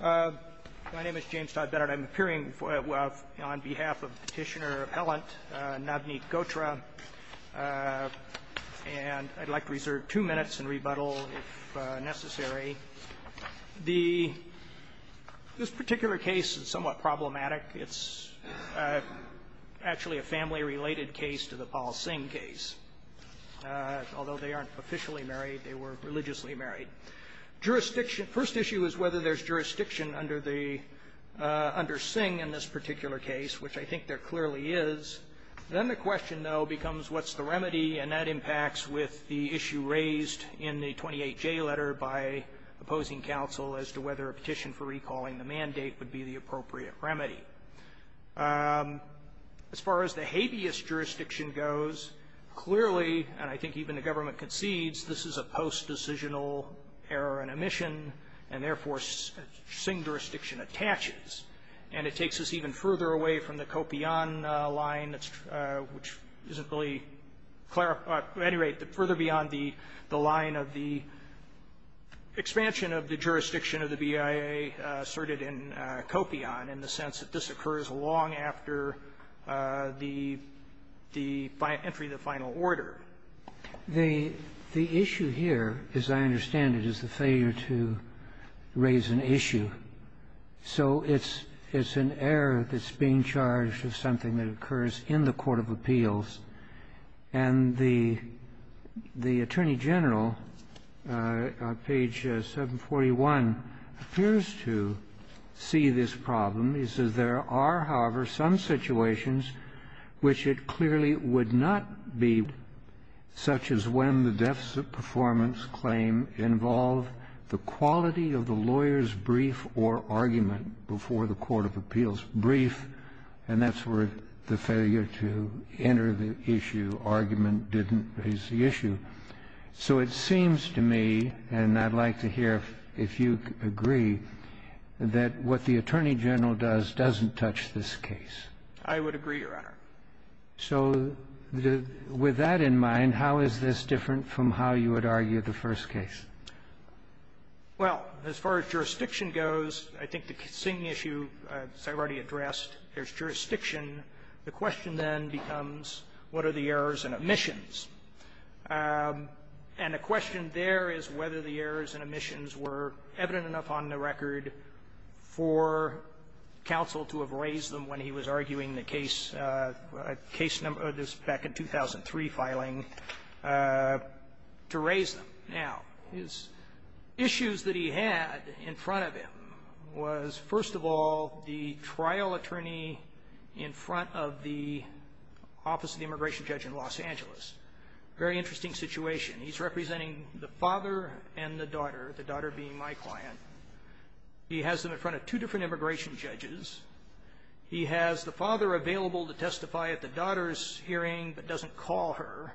My name is James Todd Bennett. I'm appearing on behalf of Petitioner Appellant Navneet Ghotra, and I'd like to reserve two minutes and rebuttal if necessary. This particular case is somewhat problematic. It's actually a family-related case to the Paul Singh case. Although they aren't officially married, they were religiously married. Jurisdiction – first issue is whether there's jurisdiction under the – under Singh in this particular case, which I think there clearly is. Then the question, though, becomes what's the remedy, and that impacts with the issue raised in the 28J letter by opposing counsel as to whether a petition for recalling the mandate would be the appropriate remedy. As far as the habeas jurisdiction goes, clearly, and I think even the government concedes, this is a post-decisional error in omission, and therefore, Singh jurisdiction attaches. And it takes us even further away from the Kopyon line, which isn't really – at any rate, it's further beyond the line of the expansion of the jurisdiction of the BIA asserted in Kopyon in the sense that this occurs long after the – the entry of the final order. The issue here, as I understand it, is the failure to raise an issue. So it's an error that's being charged with something that occurs in the court of appeals. And the Attorney General, on page 741, appears to see this problem. He says, "...there are, however, some situations which it clearly would not be, such as when the deficit performance claim involved the quality of the lawyer's brief or argument before the court of appeals." And that's where the failure to enter the issue, argument, didn't raise the issue. So it seems to me, and I'd like to hear if you agree, that what the Attorney General does doesn't touch this case. I would agree, Your Honor. So with that in mind, how is this different from how you would argue the first case? Well, as far as jurisdiction goes, I think the same issue, as I've already addressed, there's jurisdiction. The question then becomes, what are the errors and omissions? And the question there is whether the errors and omissions were evident enough on the record for counsel to have raised them when he was arguing the case, case number, this back in 2003 filing, to raise them. Now, his issues that he had in front of him was, first of all, the trial attorney in front of the Office of the Immigration Judge in Los Angeles. Very interesting situation. He's representing the father and the daughter, the daughter being my client. He has them in front of two different immigration judges. He has the father available to testify at the daughter's hearing, but doesn't call her,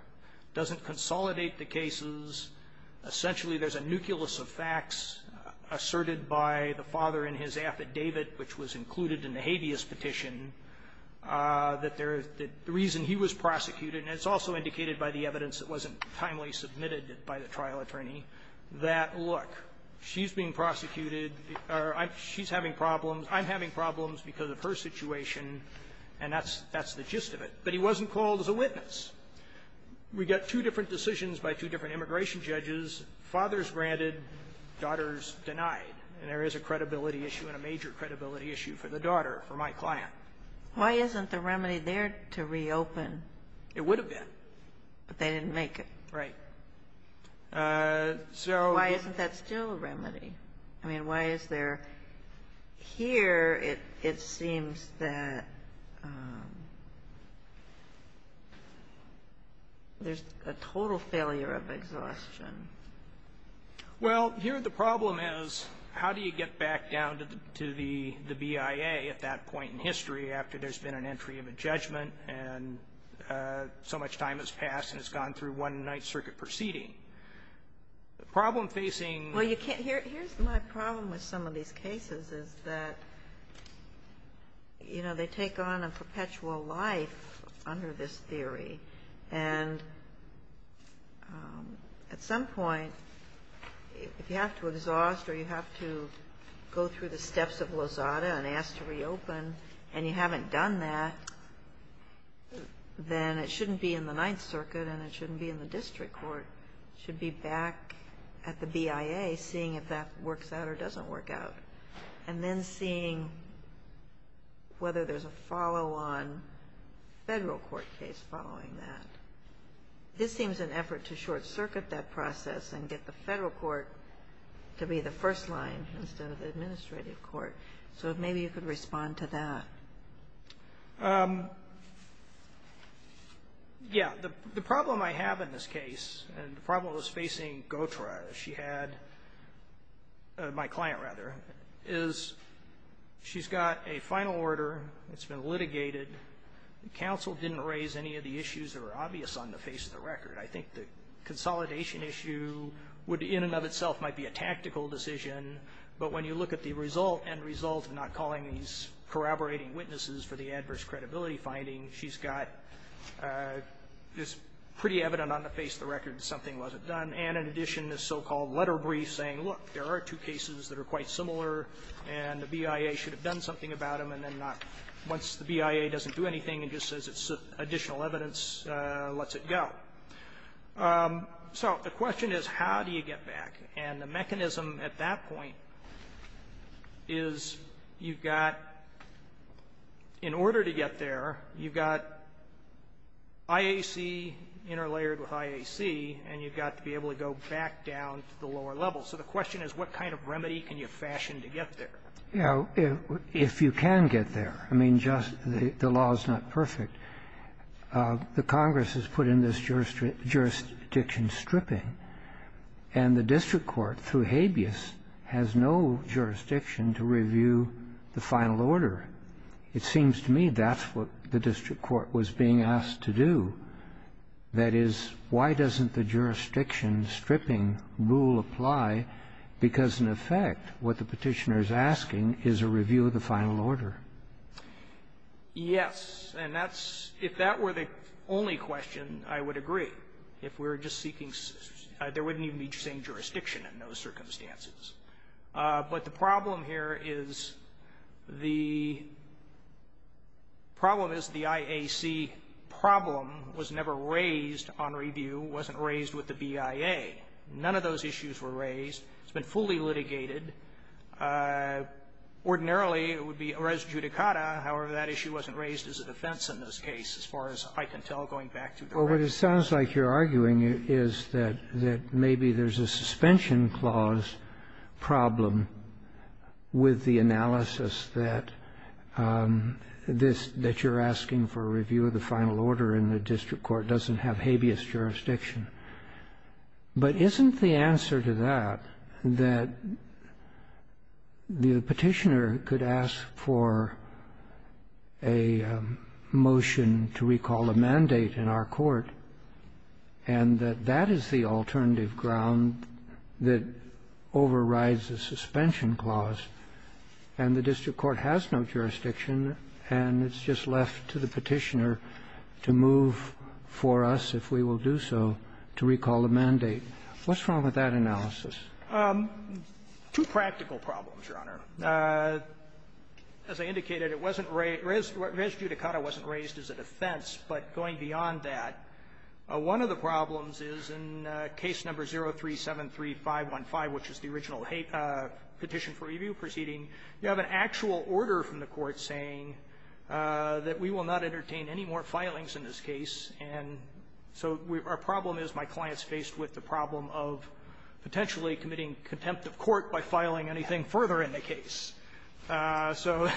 doesn't consolidate the cases. Essentially, there's a nucleus of facts asserted by the father in his affidavit, which was included in the habeas petition, that there is the reason he was prosecuted. And it's also indicated by the evidence that wasn't timely submitted by the trial attorney that, look, she's being prosecuted, or she's having problems, I'm having problems because of her situation, and that's the gist of it. But he wasn't called as a witness. We got two different decisions by two different immigration judges, fathers granted, daughters denied. And there is a credibility issue and a major credibility issue for the daughter, for my client. Why isn't the remedy there to reopen? It would have been. But they didn't make it. Right. So why isn't that still a remedy? I mean, why is there here, it seems that there's a total failure of exhaustion. Well, here the problem is, how do you get back down to the BIA at that point in history after there's been an entry of a judgment and so much time has passed and it's gone through one Ninth Circuit proceeding? My problem with some of these cases is that, you know, they take on a perpetual life under this theory, and at some point, if you have to exhaust or you have to go through the steps of Lozada and ask to reopen and you haven't done that, then it shouldn't be in the Ninth Circuit and it shouldn't be in the district court. It should be back at the BIA, seeing if that works out or doesn't work out. And then seeing whether there's a follow-on federal court case following that. This seems an effort to short-circuit that process and get the federal court to be the first line instead of the administrative court. So maybe you could respond to that. Yeah. The problem I have in this case, and the problem that's facing GOTRA, she had my client, rather, is she's got a final order, it's been litigated, the counsel didn't raise any of the issues that are obvious on the face of the record. I think the consolidation issue would, in and of itself, might be a tactical decision, but when you look at the result and result of not calling these corroborating witnesses for the adverse credibility finding, she's got, it's pretty evident on the face of the record that something wasn't done, and in addition, this so-called letter brief saying, look, there are two cases that are quite similar, and the BIA should have done something about them, and then not, once the BIA doesn't do anything and just says it's additional evidence, lets it go. So the question is, how do you get back? And the mechanism at that point is you've got, in order to get there, you've got IAC interlayered with IAC, and you've got to be able to go back down to the lower level. So the question is, what kind of remedy can you fashion to get there? Yeah. If you can get there. I mean, just the law is not perfect. The Congress has put in this jurisdiction stripping, and the district court, through Habeas, has no jurisdiction to review the final order. It seems to me that's what the district court was being asked to do. That is, why doesn't the jurisdiction stripping rule apply, because, in effect, what the Petitioner is asking is a review of the final order. Yes. And that's, if that were the only question, I would agree. If we're just seeking, there wouldn't even be the same jurisdiction in those circumstances. But the problem here is, the problem is the IAC problem was never raised on review, wasn't raised with the BIA. None of those issues were raised. It's been fully litigated. Ordinarily, it would be res judicata. However, that issue wasn't raised as a defense in this case, as far as I can tell, going back to the question. Well, what it sounds like you're arguing is that maybe there's a suspension clause problem with the analysis that this that you're asking for a review of the final order in the district court doesn't have Habeas jurisdiction. But isn't the answer to that that the Petitioner could ask for a motion to recall a mandate in our court, and that that is the alternative ground that overrides the suspension clause, and the district court has no jurisdiction, and it's just left to the Petitioner to move for us, if we will do so, to recall the mandate? What's wrong with that analysis? Two practical problems, Your Honor. As I indicated, it wasn't raised res judicata wasn't raised as a defense. But going beyond that, one of the problems is in Case No. 0373515, which is the original Petition for Review proceeding, you have an actual order from the court saying that we will not entertain any more filings in this case. And so our problem is my client's faced with the problem of potentially committing contempt of court by filing anything further in the case. So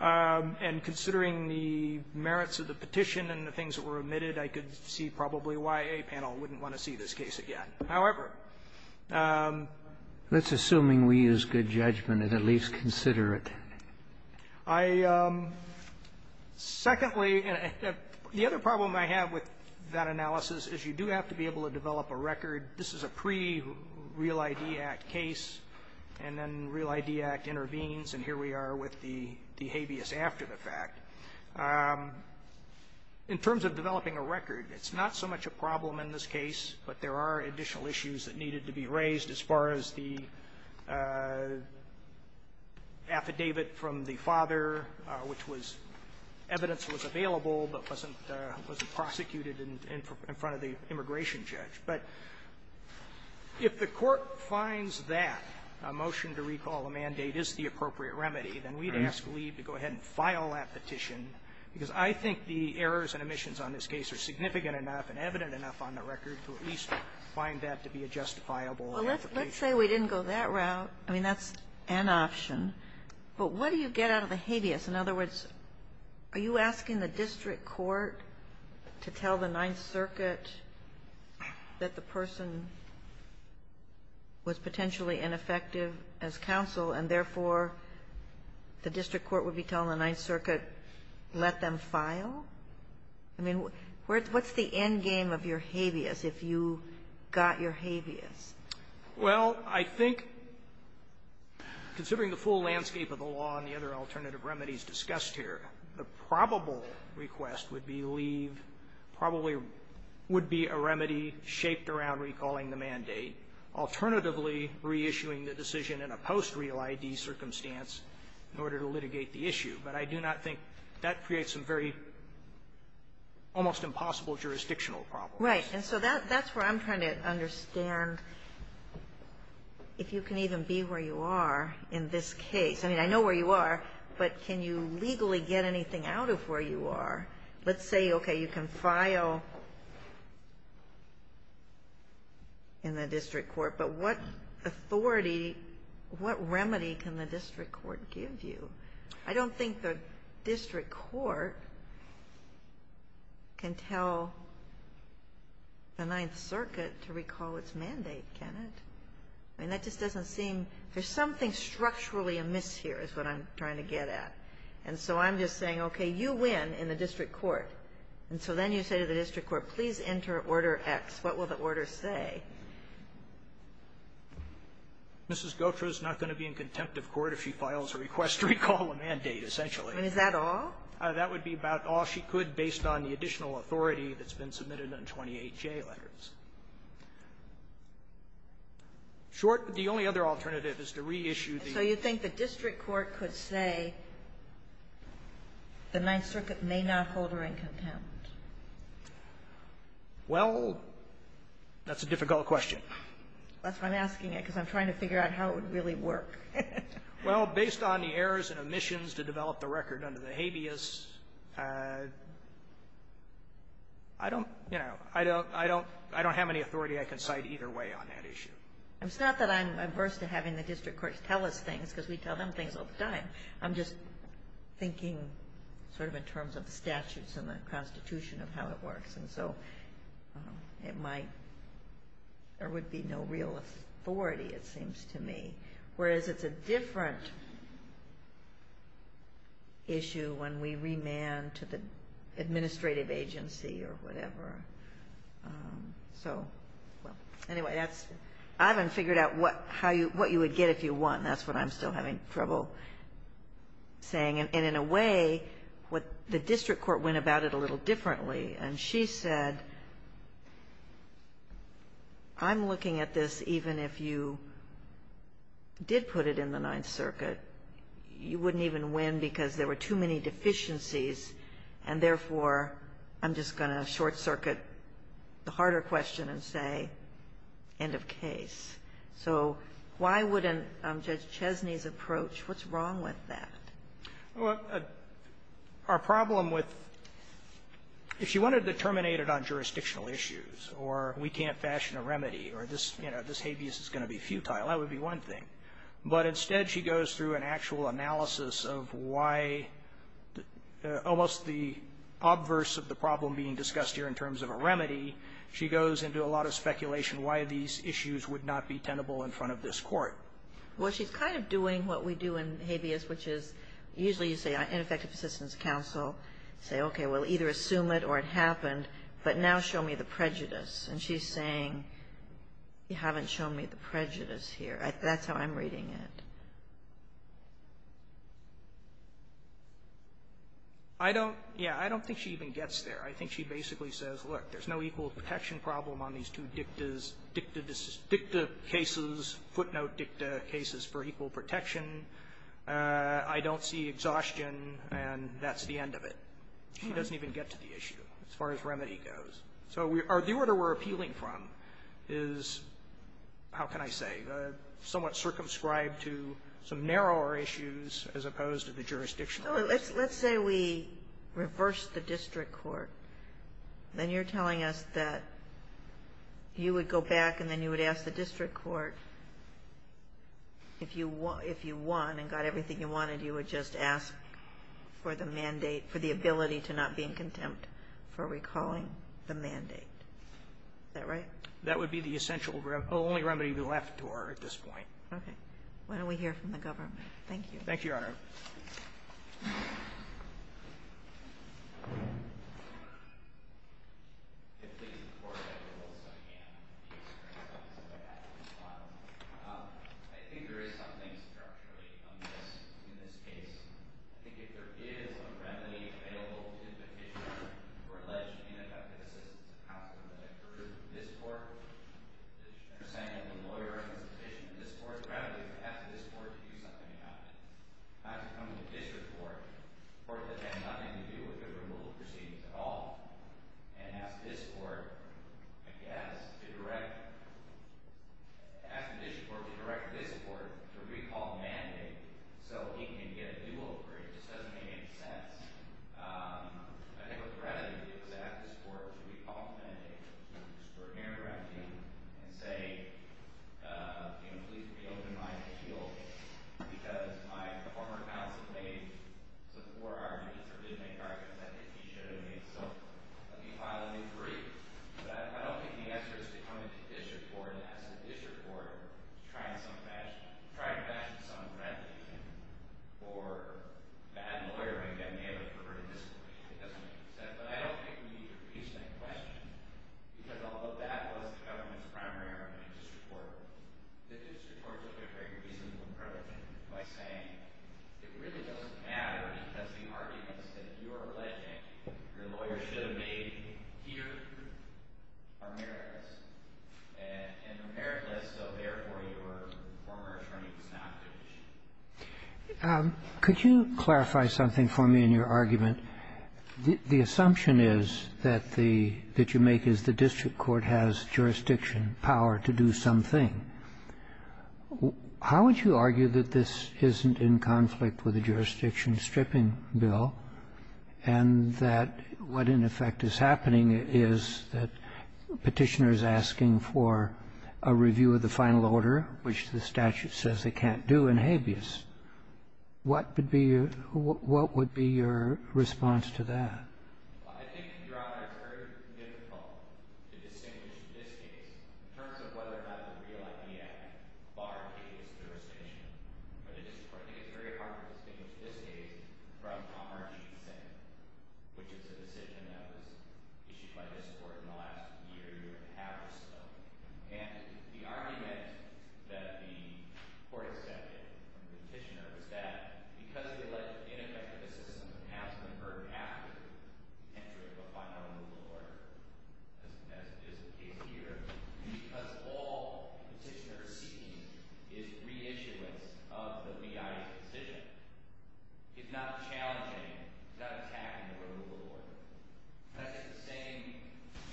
and considering the merits of the petition and the things that were omitted, I could see probably why a panel wouldn't want to see this case again. However, let's assume we use good judgment and at least consider it. I am – secondly, the other problem I have with that analysis is you do have to be able to develop a record. This is a pre-Real ID Act case, and then Real ID Act intervenes, and here we are with the habeas after the fact. In terms of developing a record, it's not so much a problem in this case, but there are additional issues that needed to be raised as far as the affidavit from the father, which was – evidence was available but wasn't prosecuted in front of the immigration judge. But if the court finds that a motion to recall a mandate is the appropriate remedy, then we'd ask Lee to go ahead and file that petition, because I think the errors and omissions on this case are significant enough and evident enough on the record to at least find that to be a justifiable application. Well, let's say we didn't go that route. I mean, that's an option, but what do you get out of the habeas? In other words, are you asking the district court to tell the Ninth Circuit that the person was potentially ineffective as counsel, and therefore, the district court would be telling the Ninth Circuit, let them file? I mean, what's the end game of your habeas, if you got your habeas? Well, I think, considering the full landscape of the law and the other alternative remedies discussed here, the probable request would be leave, probably would be a remedy shaped around recalling the mandate, alternatively reissuing the decision in a post-real I.D. circumstance in order to litigate the issue. But I do not think that creates some very almost impossible jurisdictional problems. Right. And so that's where I'm trying to understand if you can even be where you are in this case. I mean, I know where you are, but can you legally get anything out of where you are? Let's say, okay, you can file in the district court, but what authority, what remedy can the district court give you? I don't think the district court can tell the Ninth Circuit to recall its mandate, can it? I mean, that just doesn't seem — there's something structurally amiss here is what I'm trying to get at. And so I'm just saying, okay, you win in the district court. And so then you say to the district court, please enter Order X. What will the order say? Mrs. Gautreaux is not going to be in contempt of court if she files a request to recall a mandate, essentially. I mean, is that all? That would be about all she could based on the additional authority that's been submitted on 28J letters. Short, the only other alternative is to reissue the — And so you think the district court could say the Ninth Circuit may not hold her in contempt? Well, that's a difficult question. That's why I'm asking it, because I'm trying to figure out how it would really work. Well, based on the errors and omissions to develop the record under the habeas, I don't — you know, I don't have any authority I can cite either way on that issue. It's not that I'm averse to having the district courts tell us things, because we tell them things all the time. I'm just thinking sort of in terms of the statutes and the Constitution of how it works. And so it might — there would be no real authority, it seems to me, whereas it's a different issue when we remand to the administrative agency or whatever. So, well, anyway, that's — I haven't figured out what you would get if you won. That's what I'm still having trouble saying. And in a way, what the district court went about it a little differently. And she said, I'm looking at this even if you did put it in the Ninth Circuit, you wouldn't even win because there were too many deficiencies, and therefore, I'm just going to short look at the harder question and say, end of case. So why wouldn't Judge Chesney's approach — what's wrong with that? Well, our problem with — if she wanted to terminate it on jurisdictional issues or we can't fashion a remedy or this, you know, this habeas is going to be futile, that would be one thing. But instead, she goes through an actual analysis of why almost the obverse of the problem being discussed here in terms of a remedy, she goes into a lot of speculation why these issues would not be tenable in front of this court. Well, she's kind of doing what we do in habeas, which is usually you say ineffective assistance counsel, say, okay, we'll either assume it or it happened, but now show me the prejudice. And she's saying, you haven't shown me the prejudice here. That's how I'm reading it. I don't — yeah, I don't think she even gets there. I think she basically says, look, there's no equal protection problem on these two dictas, dicta cases, footnote dicta cases for equal protection. I don't see exhaustion, and that's the end of it. She doesn't even get to the issue as far as remedy goes. So the order we're appealing from is, how can I say, somewhat circumscribed to some narrower issues as opposed to the jurisdictional issues. Well, let's say we reverse the district court. Then you're telling us that you would go back and then you would ask the district court if you won and got everything you wanted, you would just ask for the mandate for the ability to not be in contempt for recalling the mandate. Is that right? That would be the essential remedy. The only remedy left to her at this point. Okay. Why don't we hear from the government? Thank you. Thank you, Your Honor. I think there is something structurally amiss in this case. I think if there is a remedy available to petitioner for alleged ineffective assistance of counsel that occurred in this court, the understanding of the lawyer is sufficient in this court. The remedy is to ask this court to do something about it. Not to come to the district court, a court that has nothing to do with the removal proceedings at all, and ask this court, I guess, to direct, ask the district court to direct this court to recall the mandate so he can get a deal over it. It just doesn't make any sense. I think what the remedy would be is to ask this court to recall the mandate to disperse and say, you know, please reopen my appeal because my former counsel made some poor arguments or did make arguments I think he should have made. So, let me file a new brief. But I don't think the answer is to come into the district court and ask the district court to try to fashion some remedy for bad lawyering that may have a perverted discipline. It doesn't make sense. But I don't think we need to repeat that question. Because although that was the government's primary argument in this court, the district court took a very reasonable approach by saying it really doesn't matter because the arguments that you are alleging your lawyer should have made here are meritless. And they're meritless, so therefore, your former attorney was not conditioned. Could you clarify something for me in your argument? The assumption is that the — that you make is the district court has jurisdiction power to do something. How would you argue that this isn't in conflict with a jurisdiction-stripping bill and that what, in effect, is happening is that Petitioner is asking for a review of the final order, which the statute says they can't do in habeas? What would be your — what would be your response to that? Well, I think, Your Honor, it's very difficult to distinguish this case in terms of whether or not the real idea barred habeas jurisdiction. For the district court, I think it's very hard to distinguish this case from Commercy Sink, which is a decision that was issued by this Court in the last year and a half or so. And the argument that the Court accepted from Petitioner is that because it alleged ineffective assistance and has been burdened after the entry of a final removal order, as is the case here, because all Petitioner is seeking is reissuance of the BIA's decision, it's not challenging, it's not attacking the removal order. Petitioner is saying,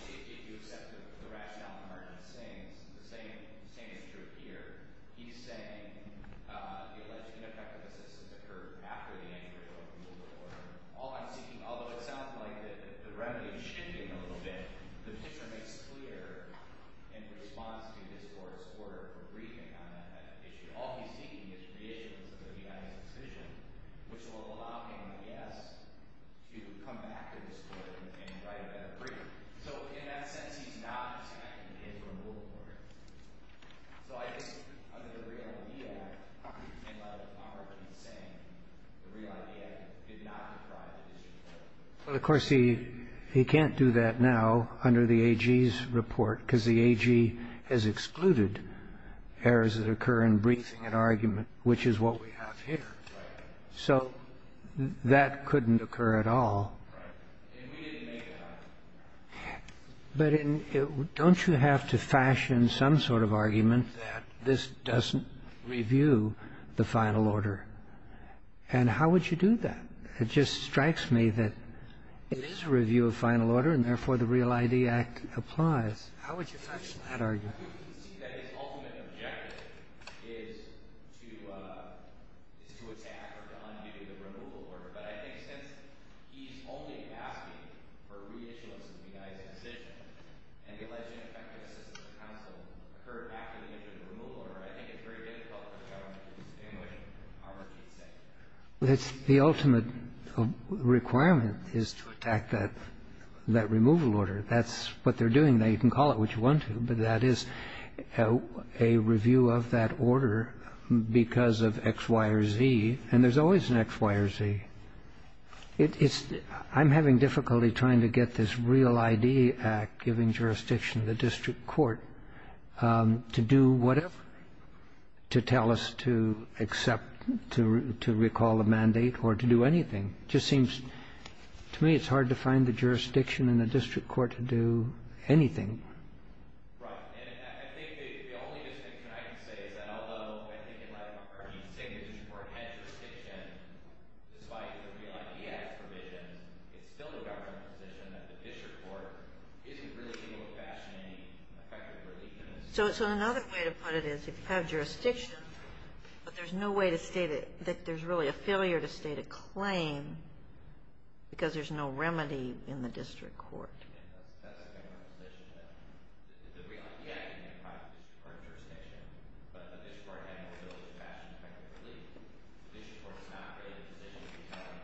if you accept the rationale for emergency things, the same is true here. He's saying the alleged ineffective assistance occurred after the entry of a removal order. All I'm seeking — although it sounds like the remedy is shifting a little bit, Petitioner makes clear in response to this Court's work or reading on that issue, all he's seeking is reissuance of the BIA's decision, which will allow BIAs to come back to this Court and write a better brief. So in that sense, he's not attacking the entry of a removal order. So I think under the Real I.D. Act, he's saying the Real I.D. Act did not deprive the district court. Well, of course, he can't do that now under the AG's report, because the AG has excluded errors that occur in briefing an argument, which is what we have here. So that couldn't occur at all. But in — don't you have to fashion some sort of argument that this doesn't review the final order? And how would you do that? It just strikes me that it is a review of final order, and therefore the Real I.D. Act applies. How would you fashion that argument? The ultimate requirement is to attack that removal order. That's what they're doing. Now, you can call it what you want to. But that is a review of that order because of X, Y, or Z. And there's always an X, Y, or Z. It's — I'm having difficulty trying to get this Real I.D. Act giving jurisdiction to the district court to do whatever, to tell us to accept — to recall a mandate or to do anything. It just seems to me it's hard to find the jurisdiction in the district court to do anything. Right. And I think the only distinction I can say is that although I think in Latin America he's saying the district court has jurisdiction, despite the Real I.D. Act's provisions, it's still the government's position that the district court isn't really able to fashion any effective relief in this case. So another way to put it is if you have jurisdiction, but there's no way to state it, that there's really a failure to state a claim because there's no remedy in the district court. That's the government's position that the Real I.D. Act can't provide district court jurisdiction, but the district court has no ability to fashion effective relief. The district court's not really in a position to be telling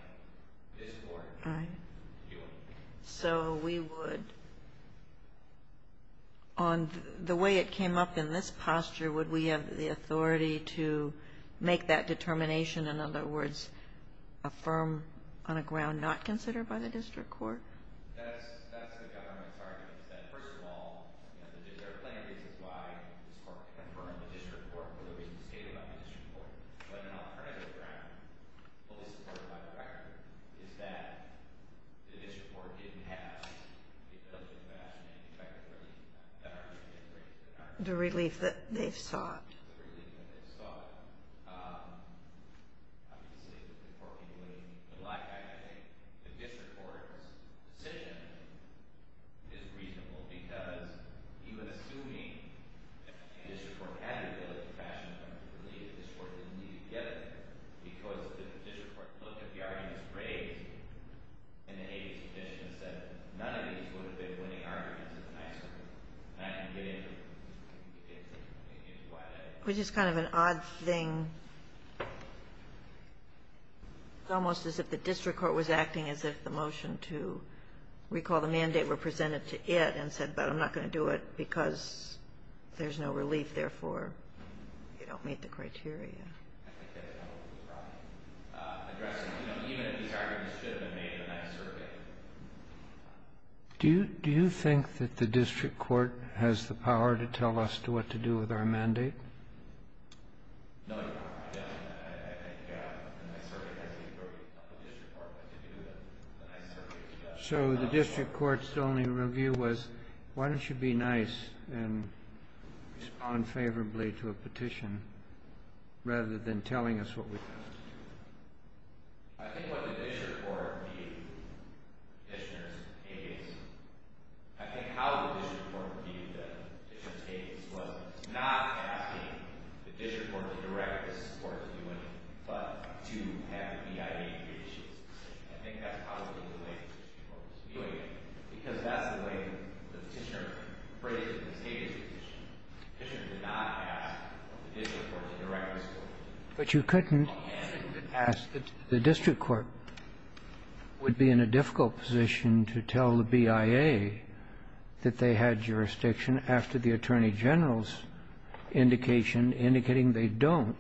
this court to do anything. So we would — on the way it came up in this posture, would we have the authority to make that determination, in other words, affirm on a ground not considered by the district court? That's the government's argument, is that first of all, you know, their plan is why this court can affirm the district court, whether we can state it on the district court. But an alternative ground fully supported by the record is that the district court didn't have the ability to fashion any effective relief. The relief that they've sought. The relief that they've sought. Obviously, the court can do what it would like. I think the district court's decision is reasonable because he was assuming that the district court had the ability to fashion an effective relief. The district court didn't need to get it because if the district court looked at the arguments raised in the Hays petition and said none of these would have been winning arguments, it's a nice one. And I can get into why that is. It was just kind of an odd thing, almost as if the district court was acting as if the motion to recall the mandate were presented to it and said, but I'm not going to do it because there's no relief, therefore, you don't meet the criteria. I think that's probably the problem. Even if these arguments should have been made in the next survey. Do you think that the district court has the power to tell us what to do with our petition? No, Your Honor, I don't. I think the next survey has the authority of the district court to do that. So the district court's only review was, why don't you be nice and respond favorably to a petition rather than telling us what we can do? I think what the district court viewed the petitioner's Hays, I think how the district court viewed the petitioner's Hays was not asking the district court to direct this court to do anything but to have the BIA do the issues. I think that's probably the way the district court was viewing it, because that's the way the petitioner phrased the Hays petition. The petitioner did not ask the district court to direct this court. But you couldn't ask the district court would be in a difficult position to tell the BIA that they had jurisdiction after the attorney general's indication indicating they don't,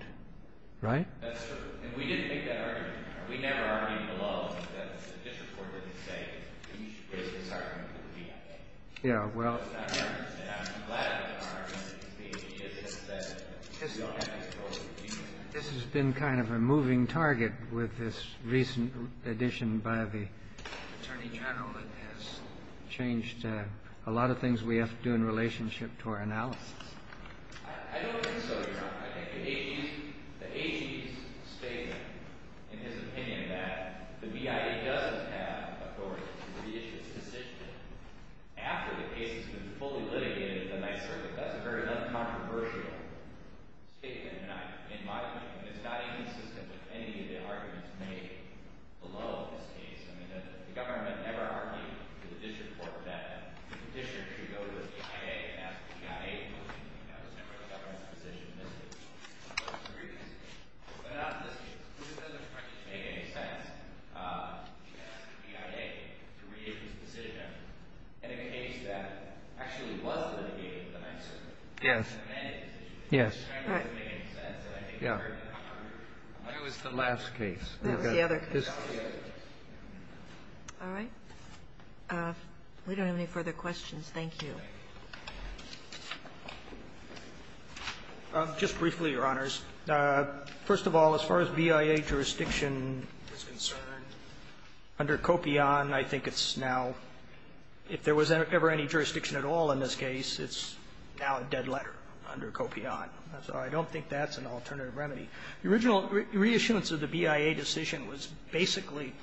right? That's true. And we didn't make that argument. We never argued the law. The district court didn't say, you should raise this argument with the BIA. Yeah, well. I'm glad that the argument is being made. It's just that we don't have control of the petition. This has been kind of a moving target with this recent addition by the attorney general that has changed a lot of things we have to do in relationship to our analysis. I don't think so, Your Honor. I think the Hays statement, in his opinion, that the BIA doesn't have authority to re-issue this petition after the case has been fully litigated in the ninth circuit, that's a very uncontroversial statement in my view. And it's not inconsistent with any of the arguments made below this case. I mean, the government never argued with the district court that the district should go to the BIA and ask the BIA to motion to do that. That was never a government decision in this case. So I disagree. But not in this case. It doesn't make any sense to ask the BIA to re-issue this decision in a case that actually was litigated in the ninth circuit. Yes. That's an amended decision. Yes. It doesn't make any sense. Yeah. It was the last case. The other. All right. We don't have any further questions. Thank you. Just briefly, Your Honors. First of all, as far as BIA jurisdiction is concerned, under Copion, I think it's now, if there was ever any jurisdiction at all in this case, it's now a dead letter under Copion. So I don't think that's an alternative remedy. The original re-issuance of the BIA decision was basically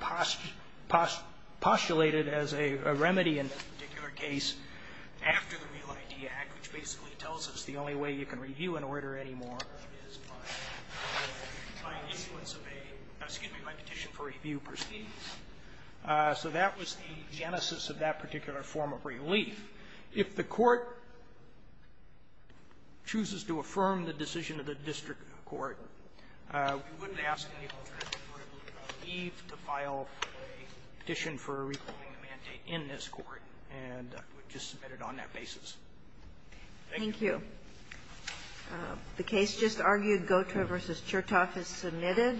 postulated as a remedy in this particular case after the Real ID Act, which basically tells us the only way you can review an order anymore is by influence of a, excuse me, by petition for review proceedings. So that was the genesis of that particular form of relief. If the Court chooses to affirm the decision of the district court, we wouldn't ask any alternative for relief to file a petition for a reclaiming mandate in this court. And we just submit it on that basis. Thank you. Thank you. The case just argued, Gautreaux v. Chertoff is submitted.